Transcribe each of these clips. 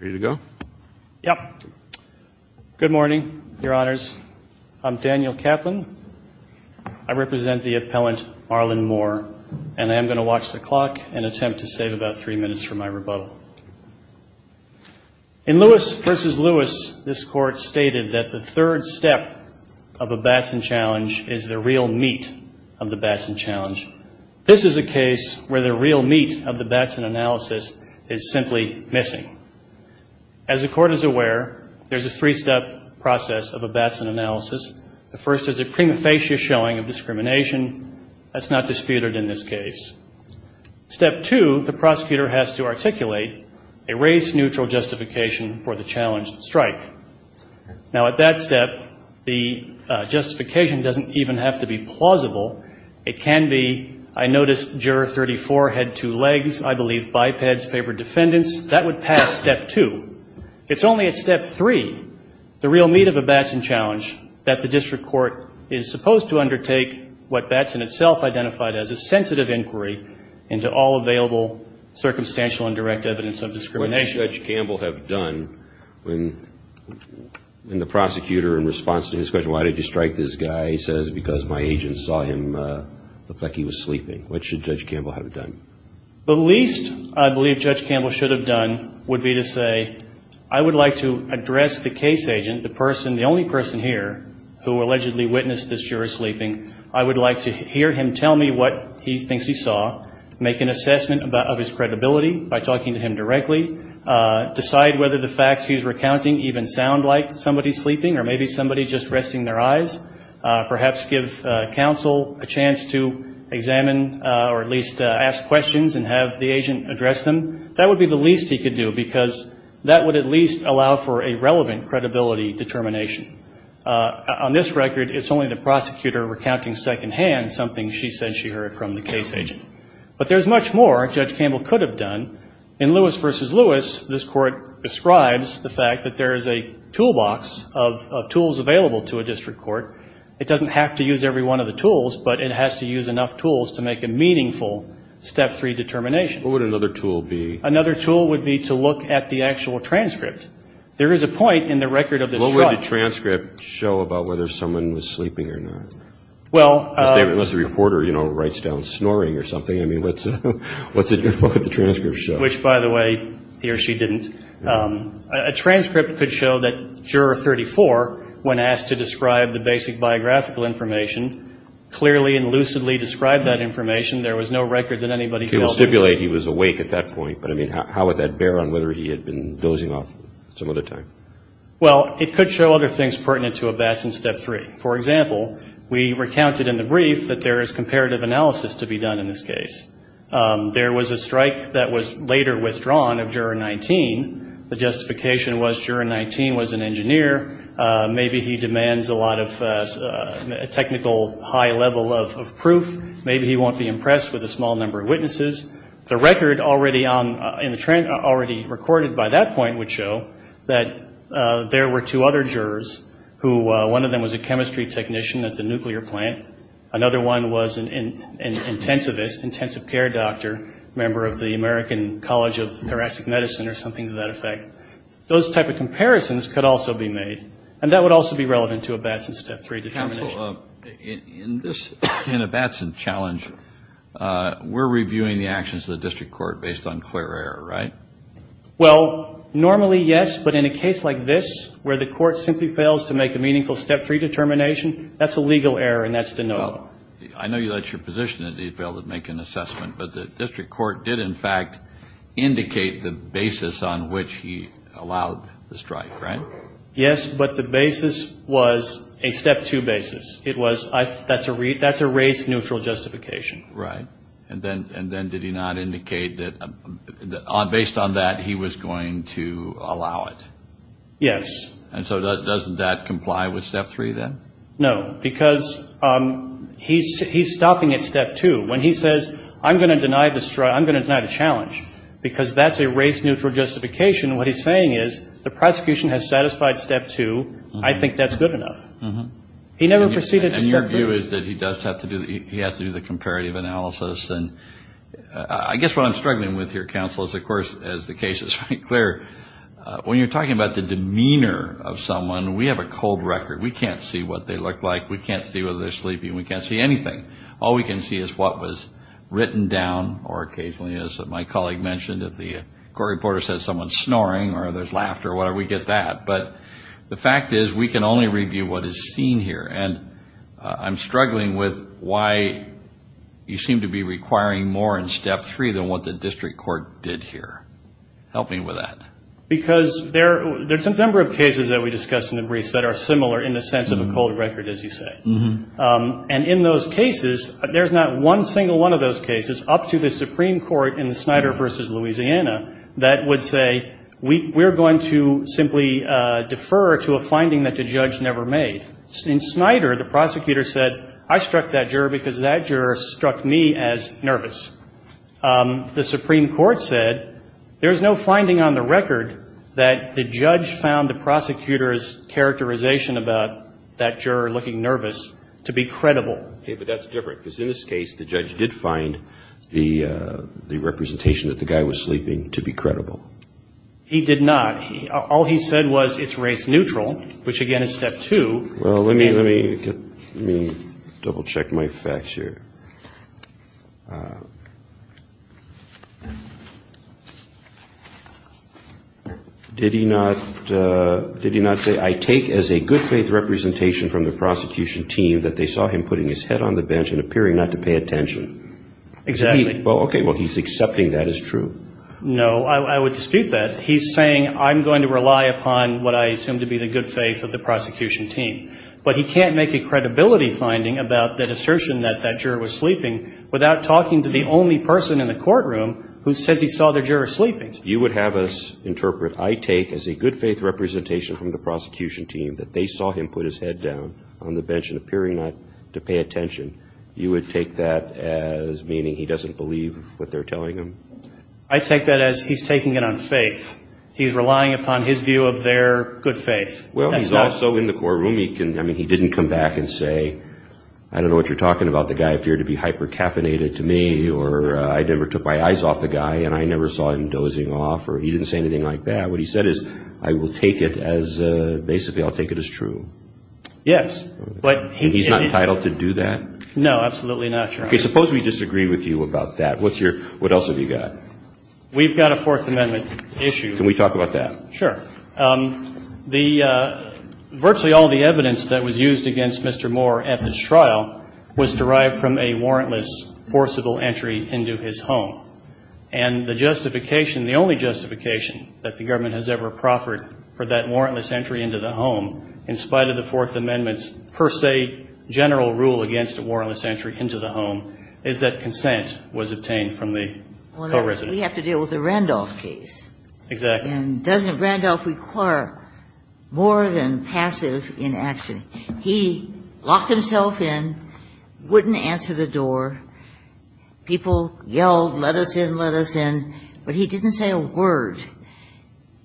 Ready to go? Good morning, Your Honors. I'm Daniel Kaplan. I represent the appellant Marlon Moore. And I am going to watch the clock and attempt to save about three minutes for my rebuttal. In Lewis v. Lewis, this Court stated that the third step of a Batson challenge is the real meat of the Batson challenge. This is a case where the real meat of the Batson analysis is simply missing. As the Court is aware, there's a three-step process of a Batson analysis. The first is a prima facie showing of discrimination that's not disputed in this case. Step two, the prosecutor has to articulate a race-neutral justification for the challenged strike. Now, at that step, the justification doesn't even have to be plausible. It can be, I noticed juror 34 had two legs, I believe bipeds favored defendants. That would pass step two. It's only at step three, the real meat of a Batson challenge, that the district court is supposed to undertake what Batson itself identified as a sensitive inquiry into all available circumstantial and direct evidence of discrimination. What did Judge Campbell have done when the prosecutor, in response to his question, why did you strike this guy, he says, because my agent saw him look like he was sleeping. What should Judge Campbell have done? The least I believe Judge Campbell should have done would be to say, I would like to address the case agent, the person, the only person here who allegedly witnessed this juror sleeping. I would like to hear him tell me what he thinks he saw, make an assessment of his credibility by talking to him directly, decide whether the facts he's recounting even sound like somebody sleeping or maybe somebody just resting their eyes, perhaps give counsel a chance to examine or at least ask questions and have the agent address them. That would be the least he could do, because that would at least allow for a relevant credibility determination. On this record, it's only the prosecutor recounting secondhand something she said she heard from the case agent. But there's much more Judge Campbell could have done. In Lewis v. Lewis, this Court describes the fact that there is a toolbox of tools available to a district court. It doesn't have to use every one of the tools, but it has to use enough tools to make a meaningful Step 3 determination. What would another tool be? Another tool would be to look at the actual transcript. There is a point in the record of this trial. What would the transcript show about whether someone was sleeping or not? Unless the reporter, you know, writes down snoring or something. I mean, what's it going to look like in the transcript? Which, by the way, he or she didn't. A transcript could show that Juror 34, when asked to describe the basic biographical information, clearly and lucidly described that information. There was no record that anybody fell asleep. He will stipulate he was awake at that point. But, I mean, how would that bear on whether he had been dozing off some other time? Well, it could show other things pertinent to Abbas in Step 3. For example, we recounted in the brief that there is comparative analysis to be done in this case. There was a strike that was later withdrawn of Juror 19. The justification was Juror 19 was an engineer. Maybe he demands a lot of technical high level of proof. Maybe he won't be impressed with a small number of witnesses. The record already on the transcript, already recorded by that point, would show that there were two other jurors who one of them was a chemistry technician at the nuclear plant. Another one was an intensivist, intensive care doctor, member of the American College of Thoracic Medicine or something to that effect. Those type of comparisons could also be made. And that would also be relevant to Abbas in Step 3 determination. Counsel, in this Abbas challenge, we're reviewing the actions of the district court based on clear error, right? Well, normally, yes. But in a case like this where the court simply fails to make a meaningful Step 3 determination, that's a legal error and that's denoted. Well, I know that's your position that he failed to make an assessment. But the district court did, in fact, indicate the basis on which he allowed the strike, right? Yes, but the basis was a Step 2 basis. It was that's a race neutral justification. Right. And then did he not indicate that based on that he was going to allow it? Yes. And so doesn't that comply with Step 3 then? No, because he's stopping at Step 2. When he says, I'm going to deny the strike, I'm going to deny the challenge, because that's a race neutral justification, what he's saying is the prosecution has satisfied Step 2. I think that's good enough. He never proceeded to Step 3. My view is that he does have to do the comparative analysis. And I guess what I'm struggling with here, counsel, is, of course, as the case is very clear, when you're talking about the demeanor of someone, we have a cold record. We can't see what they look like. We can't see whether they're sleeping. We can't see anything. All we can see is what was written down or occasionally, as my colleague mentioned, if the court reporter says someone's snoring or there's laughter or whatever, we get that. But the fact is we can only review what is seen here. And I'm struggling with why you seem to be requiring more in Step 3 than what the district court did here. Help me with that. Because there's a number of cases that we discussed in the briefs that are similar in the sense of a cold record, as you say. And in those cases, there's not one single one of those cases up to the Supreme Court in the Snyder v. Louisiana that would say we're going to simply defer to a finding that the judge never made. In Snyder, the prosecutor said, I struck that juror because that juror struck me as nervous. The Supreme Court said there's no finding on the record that the judge found the prosecutor's characterization about that juror looking nervous to be credible. Okay, but that's different. Because in this case, the judge did find the representation that the guy was sleeping to be credible. He did not. All he said was it's race neutral, which, again, is Step 2. Well, let me double-check my facts here. Did he not say, I take as a good faith representation from the prosecution team that they saw him putting his head on the bench and appearing not to pay attention? Exactly. Well, okay. Well, he's accepting that as true? No, I would dispute that. He's saying, I'm going to rely upon what I assume to be the good faith of the prosecution team. But he can't make a credibility finding about that assertion that that juror was sleeping without talking to the only person in the courtroom who says he saw the juror sleeping. You would have us interpret, I take as a good faith representation from the prosecution team that they saw him put his head down on the bench and appearing not to pay attention. You would take that as meaning he doesn't believe what they're telling him? I take that as he's taking it on faith. He's relying upon his view of their good faith. Well, he's also in the courtroom. I mean, he didn't come back and say, I don't know what you're talking about. The guy appeared to be hyper-caffeinated to me, or I never took my eyes off the guy, and I never saw him dozing off, or he didn't say anything like that. What he said is, I will take it as, basically, I'll take it as true. Yes. And he's not entitled to do that? No, absolutely not, Your Honor. Okay, suppose we disagree with you about that. What else have you got? We've got a Fourth Amendment issue. Can we talk about that? Sure. Virtually all the evidence that was used against Mr. Moore at this trial was derived from a warrantless, forcible entry into his home. And the justification, the only justification that the government has ever proffered for that warrantless entry into the home, in spite of the Fourth Amendment's, per se, general rule against a warrantless entry into the home, is that consent was obtained from the co-resident. We have to deal with the Randolph case. Exactly. And doesn't Randolph require more than passive inaction? He locked himself in, wouldn't answer the door. People yelled, let us in, let us in. But he didn't say a word.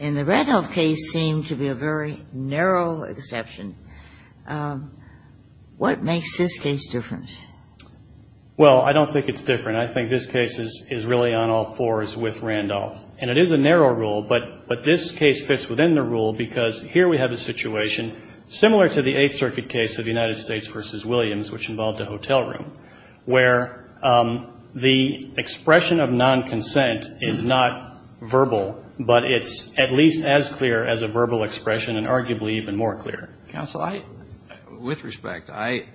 And the Randolph case seemed to be a very narrow exception. What makes this case different? Well, I don't think it's different. I think this case is really on all fours with Randolph. And it is a narrow rule, but this case fits within the rule because here we have a situation similar to the Eighth Circuit case of the United States v. Williams, which involved a hotel room, where the expression of non-consent is not verbal, but it's at least as clear as a verbal expression and arguably even more clear. Counsel, with respect, I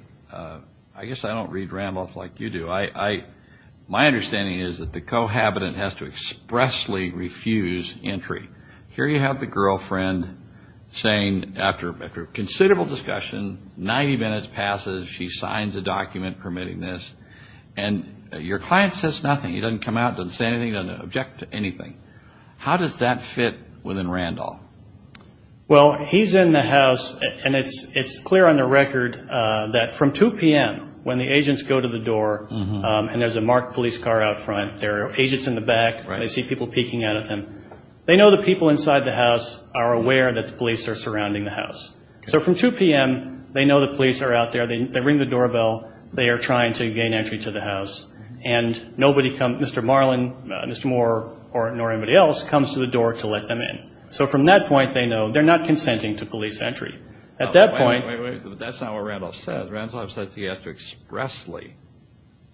guess I don't read Randolph like you do. My understanding is that the co-habitant has to expressly refuse entry. Here you have the girlfriend saying, after considerable discussion, 90 minutes passes, she signs a document permitting this. And your client says nothing. He doesn't come out, doesn't say anything, doesn't object to anything. How does that fit within Randolph? Well, he's in the house, and it's clear on the record that from 2 p.m. when the agents go to the door and there's a marked police car out front, there are agents in the back, they see people peeking out at them, they know the people inside the house are aware that the police are surrounding the house. So from 2 p.m. they know the police are out there. They ring the doorbell. They are trying to gain entry to the house. And nobody comes, Mr. Marlin, Mr. Moore, nor anybody else comes to the door to let them in. So from that point they know they're not consenting to police entry. At that point – Wait, wait, wait. That's not what Randolph says. Randolph says he has to expressly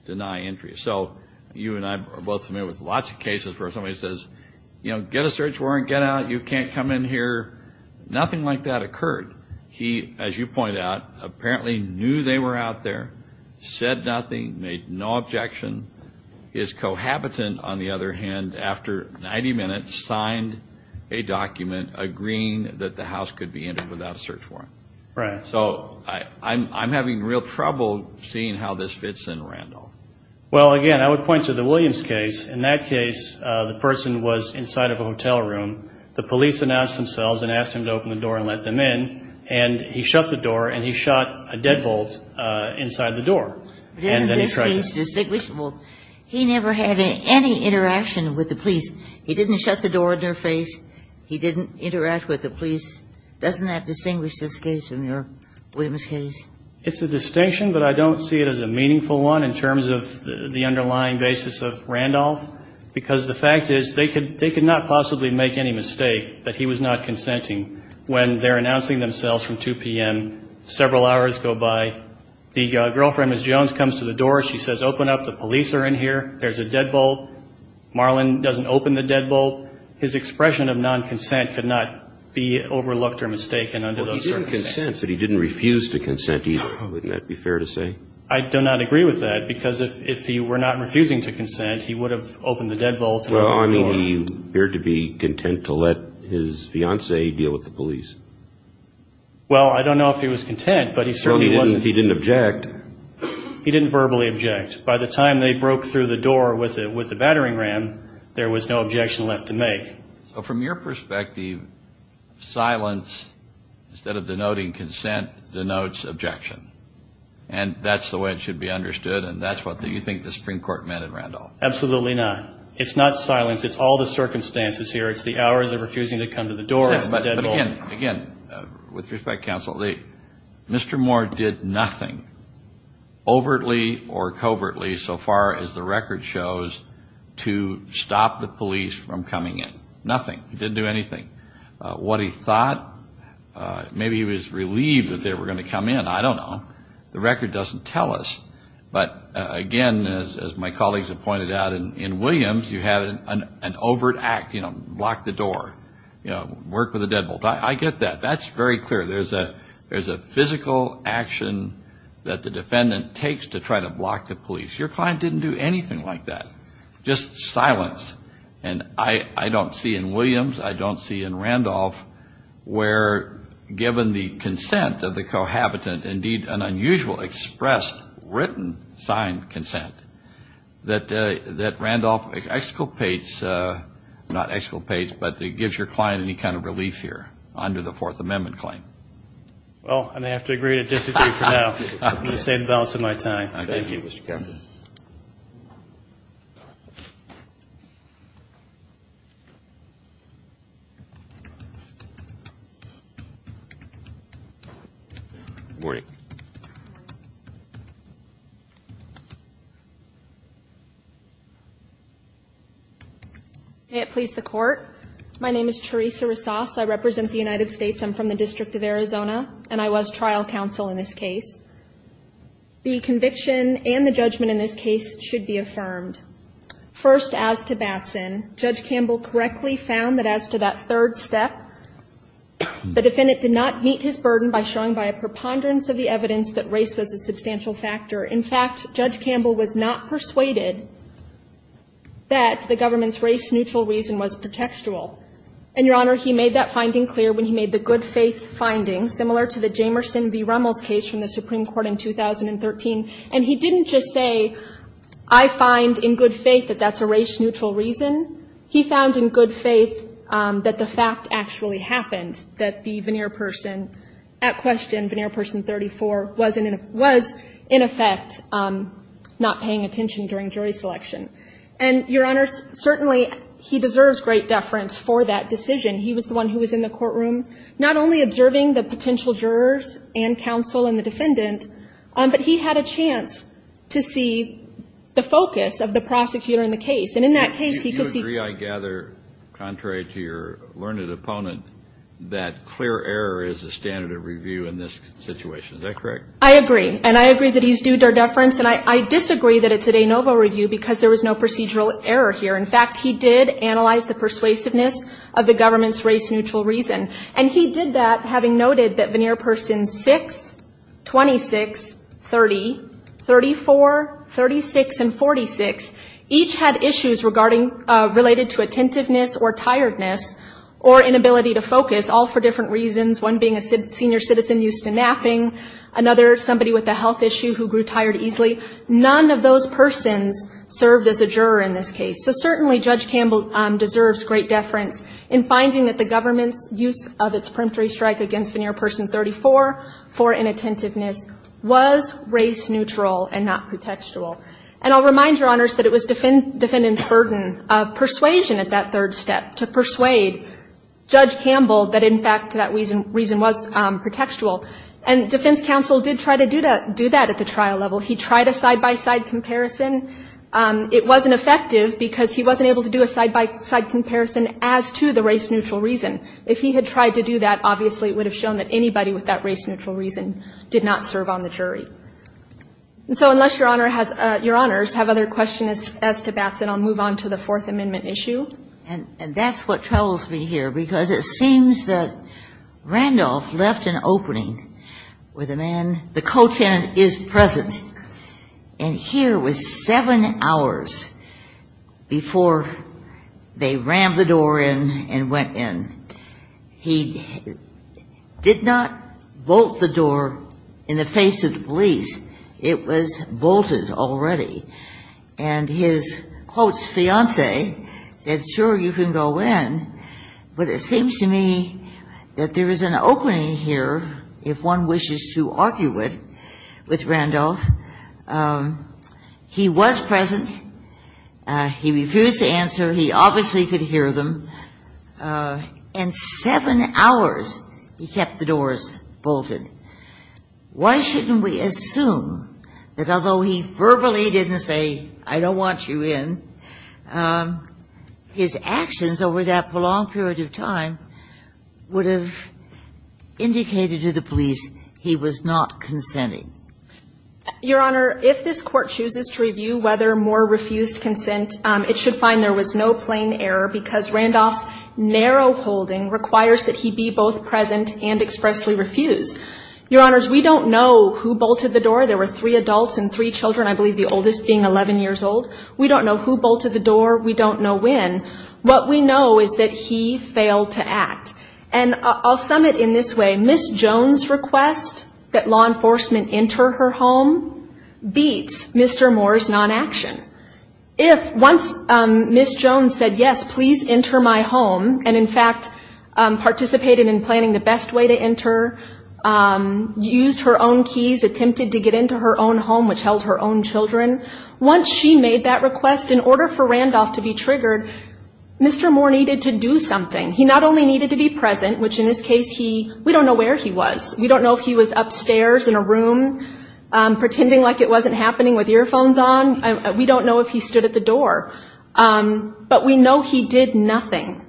deny entry. So you and I are both familiar with lots of cases where somebody says, you know, get a search warrant, get out. You can't come in here. Nothing like that occurred. He, as you point out, apparently knew they were out there, said nothing, made no objection. His cohabitant, on the other hand, after 90 minutes signed a document agreeing that the house could be entered without a search warrant. Right. So I'm having real trouble seeing how this fits in Randolph. Well, again, I would point to the Williams case. In that case the person was inside of a hotel room. The police announced themselves and asked him to open the door and let them in. And he shut the door and he shot a deadbolt inside the door. And then he tried to – Isn't this case distinguishable? He never had any interaction with the police. He didn't shut the door in their face. He didn't interact with the police. Doesn't that distinguish this case from your Williams case? It's a distinction, but I don't see it as a meaningful one in terms of the underlying basis of Randolph, because the fact is they could not possibly make any mistake that he was not consenting. When they're announcing themselves from 2 p.m., several hours go by. The girlfriend, Ms. Jones, comes to the door. She says, open up. The police are in here. There's a deadbolt. Marlon doesn't open the deadbolt. His expression of nonconsent could not be overlooked or mistaken under those circumstances. Well, he didn't consent, but he didn't refuse to consent either. Wouldn't that be fair to say? I do not agree with that, because if he were not refusing to consent, he would have opened the deadbolt. Well, I mean, he appeared to be content to let his fiancée deal with the police. Well, I don't know if he was content, but he certainly wasn't. So he didn't object. He didn't verbally object. By the time they broke through the door with the battering ram, there was no objection left to make. So from your perspective, silence, instead of denoting consent, denotes objection. And that's the way it should be understood, and that's what you think the Supreme Court meant in Randolph. Absolutely not. It's not silence. It's all the circumstances here. It's the hours of refusing to come to the door. But again, with respect, counsel, Mr. Moore did nothing, overtly or covertly, so far as the record shows, to stop the police from coming in. Nothing. He didn't do anything. What he thought, maybe he was relieved that they were going to come in. I don't know. The record doesn't tell us. But again, as my colleagues have pointed out, in Williams, you have an overt act. You know, block the door. Work with the deadbolt. I get that. That's very clear. There's a physical action that the defendant takes to try to block the police. Your client didn't do anything like that. Just silence. And I don't see in Williams, I don't see in Randolph, where given the consent of the cohabitant, indeed an unusual expressed written signed consent, that Randolph exculpates, not exculpates, but gives your client any kind of relief here under the Fourth Amendment claim. Well, I'm going to have to agree to disagree for now. I'm going to say the balance of my time. Thank you, Mr. Chairman. Good morning. May it please the Court. My name is Theresa Ressas. I represent the United States. I'm from the District of Arizona, and I was trial counsel in this case. The conviction and the judgment in this case should be affirmed. First, as to Batson, Judge Campbell correctly found that as to that third step, the defendant did not meet his burden by showing by a preponderance of the evidence that race was a substantial factor. In fact, Judge Campbell was not persuaded that the government's race-neutral reason was pretextual. And, Your Honor, he made that finding clear when he made the good-faith finding, similar to the Jamerson v. Rummel's case from the Supreme Court in 2013. And he didn't just say, I find in good faith that that's a race-neutral reason. He found in good faith that the fact actually happened, that the veneer person at question, veneer person 34, was in effect not paying attention during jury selection. And, Your Honor, certainly he deserves great deference for that decision. He was the one who was in the courtroom, not only observing the potential jurors and counsel and the defendant, but he had a chance to see the focus of the prosecutor in the case. And in that case, he could see the focus. Kennedy. If you agree, I gather, contrary to your learned opponent, that clear error is the standard of review in this situation. Is that correct? I agree. And I agree that he's due deference, and I disagree that it's a de novo review because there was no procedural error here. In fact, he did analyze the persuasiveness of the government's race-neutral reason. And he did that, having noted that veneer persons 6, 26, 30, 34, 36, and 46, each had issues regarding related to attentiveness or tiredness or inability to focus, all for different reasons, one being a senior citizen used to napping, another somebody with a health issue who grew tired easily. None of those persons served as a juror in this case. So certainly, Judge Campbell deserves great deference in finding that the government's use of its peremptory strike against veneer person 34 for inattentiveness was race-neutral and not pretextual. And I'll remind Your Honors that it was defendants' burden of persuasion at that third step to persuade Judge Campbell that, in fact, that reason was pretextual. And defense counsel did try to do that at the trial level. He tried a side-by-side comparison. It wasn't effective because he wasn't able to do a side-by-side comparison as to the race-neutral reason. If he had tried to do that, obviously, it would have shown that anybody with that race-neutral reason did not serve on the jury. So unless Your Honor has other questions as to Batson, I'll move on to the Fourth Amendment issue. And that's what troubles me here, because it seems that Randolph left an opening where the man, the co-tenant is present. And here was seven hours before they rammed the door in and went in. He did not bolt the door in the face of the police. It was bolted already. And his close fiancé said, sure, you can go in, but it seems to me that there is an opening here if one wishes to argue with Randolph. He was present. He refused to answer. He obviously could hear them. And seven hours he kept the doors bolted. Why shouldn't we assume that although he verbally didn't say, I don't want you in, his actions over that prolonged period of time would have indicated to the police he was not consenting? Your Honor, if this Court chooses to review whether Moore refused consent, it should find there was no plain error, because Randolph's narrow holding requires that he be both present and expressly refuse. Your Honors, we don't know who bolted the door. There were three adults and three children, I believe the oldest being 11 years old. We don't know who bolted the door. We don't know when. What we know is that he failed to act. And I'll sum it in this way. Ms. Jones' request that law enforcement enter her home beats Mr. Moore's non-action. If once Ms. Jones said, yes, please enter my home, and in fact participated in planning the best way to enter, used her own keys, attempted to get into her own Once she made that request, in order for Randolph to be triggered, Mr. Moore needed to do something. He not only needed to be present, which in this case he, we don't know where he was. We don't know if he was upstairs in a room pretending like it wasn't happening with earphones on. We don't know if he stood at the door. But we know he did nothing.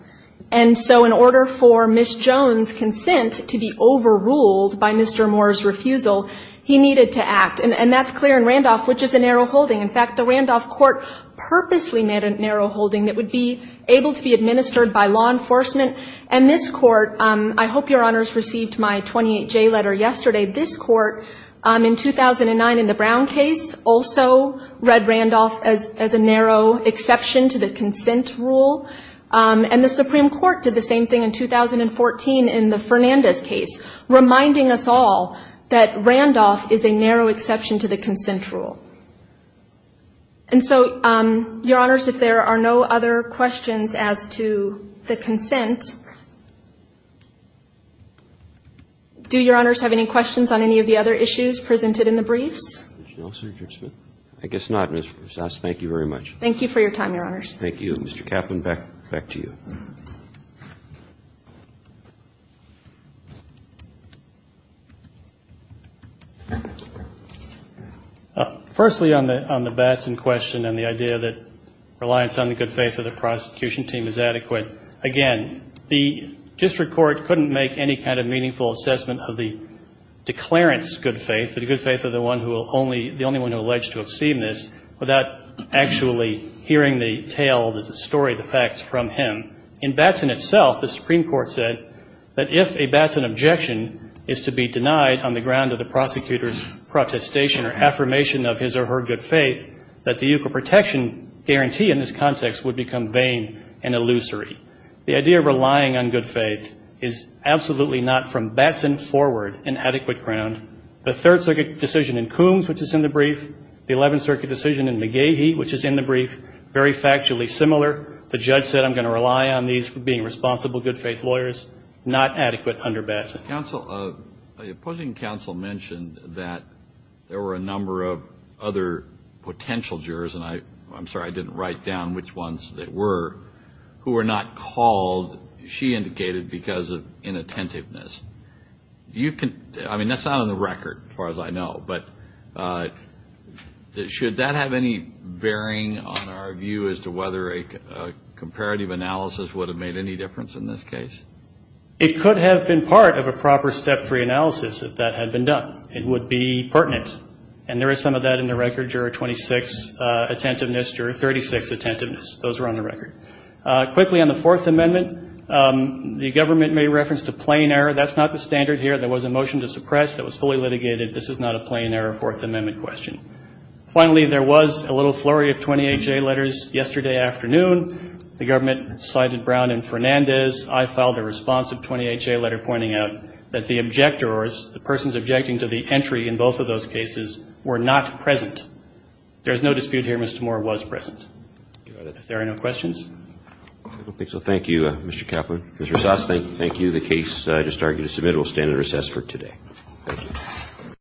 And so in order for Ms. Jones' consent to be overruled by Mr. Moore's refusal, he needed to act. And that's clear in Randolph, which is a narrow holding. In fact, the Randolph court purposely made a narrow holding that would be able to be administered by law enforcement. And this court, I hope Your Honors received my 28J letter yesterday, this court in 2009 in the Brown case also read Randolph as a narrow exception to the consent rule. And the Supreme Court did the same thing in 2014 in the Fernandez case, reminding us all that Randolph is a narrow exception to the consent rule. And so, Your Honors, if there are no other questions as to the consent, do Your Honors have any questions on any of the other issues presented in the briefs? I guess not, Ms. Rosas. Thank you very much. Thank you for your time, Your Honors. Thank you. Mr. Kaplan, back to you. Firstly, on the Batson question and the idea that reliance on the good faith of the prosecution team is adequate, again, the district court couldn't make any kind of meaningful assessment of the declarant's good faith, the good faith of the only one who alleged to have seen this, without actually hearing the tale, the story, the facts from him. In Batson itself, the Supreme Court said that if a Batson objection is to be denied on the ground of the prosecutor's protestation or affirmation of his or her good faith, that the equal protection guarantee in this context would become vain and illusory. The idea of relying on good faith is absolutely not from Batson forward an adequate ground. The Third Circuit decision in Coombs, which is in the brief, the Eleventh Circuit decision in McGehee, which is in the brief, very factually similar. The judge said, I'm going to rely on these being responsible good faith lawyers, not adequate under Batson. Counsel, the opposing counsel mentioned that there were a number of other potential jurors, and I'm sorry I didn't write down which ones they were, who were not called, she indicated, because of inattentiveness. I mean, that's not on the record, as far as I know, but should that have any bearing on our view as to whether a comparative analysis would have made any difference in this case? It could have been part of a proper step three analysis if that had been done. It would be pertinent. And there is some of that in the record, juror 26, attentiveness, juror 36, attentiveness. Those are on the record. Quickly, on the Fourth Amendment, the government made reference to plain error. That's not the standard here. There was a motion to suppress that was fully litigated. This is not a plain error Fourth Amendment question. Finally, there was a little flurry of 28-J letters yesterday afternoon. The government cited Brown and Fernandez. I filed a responsive 28-J letter pointing out that the objectors, the persons objecting to the entry in both of those cases, were not present. There is no dispute here. Mr. Moore was present. If there are no questions? I don't think so. Thank you, Mr. Kaplan. Mr. Sosnick, thank you. The case I just argued is submitted. It will stand at recess for today. Thank you.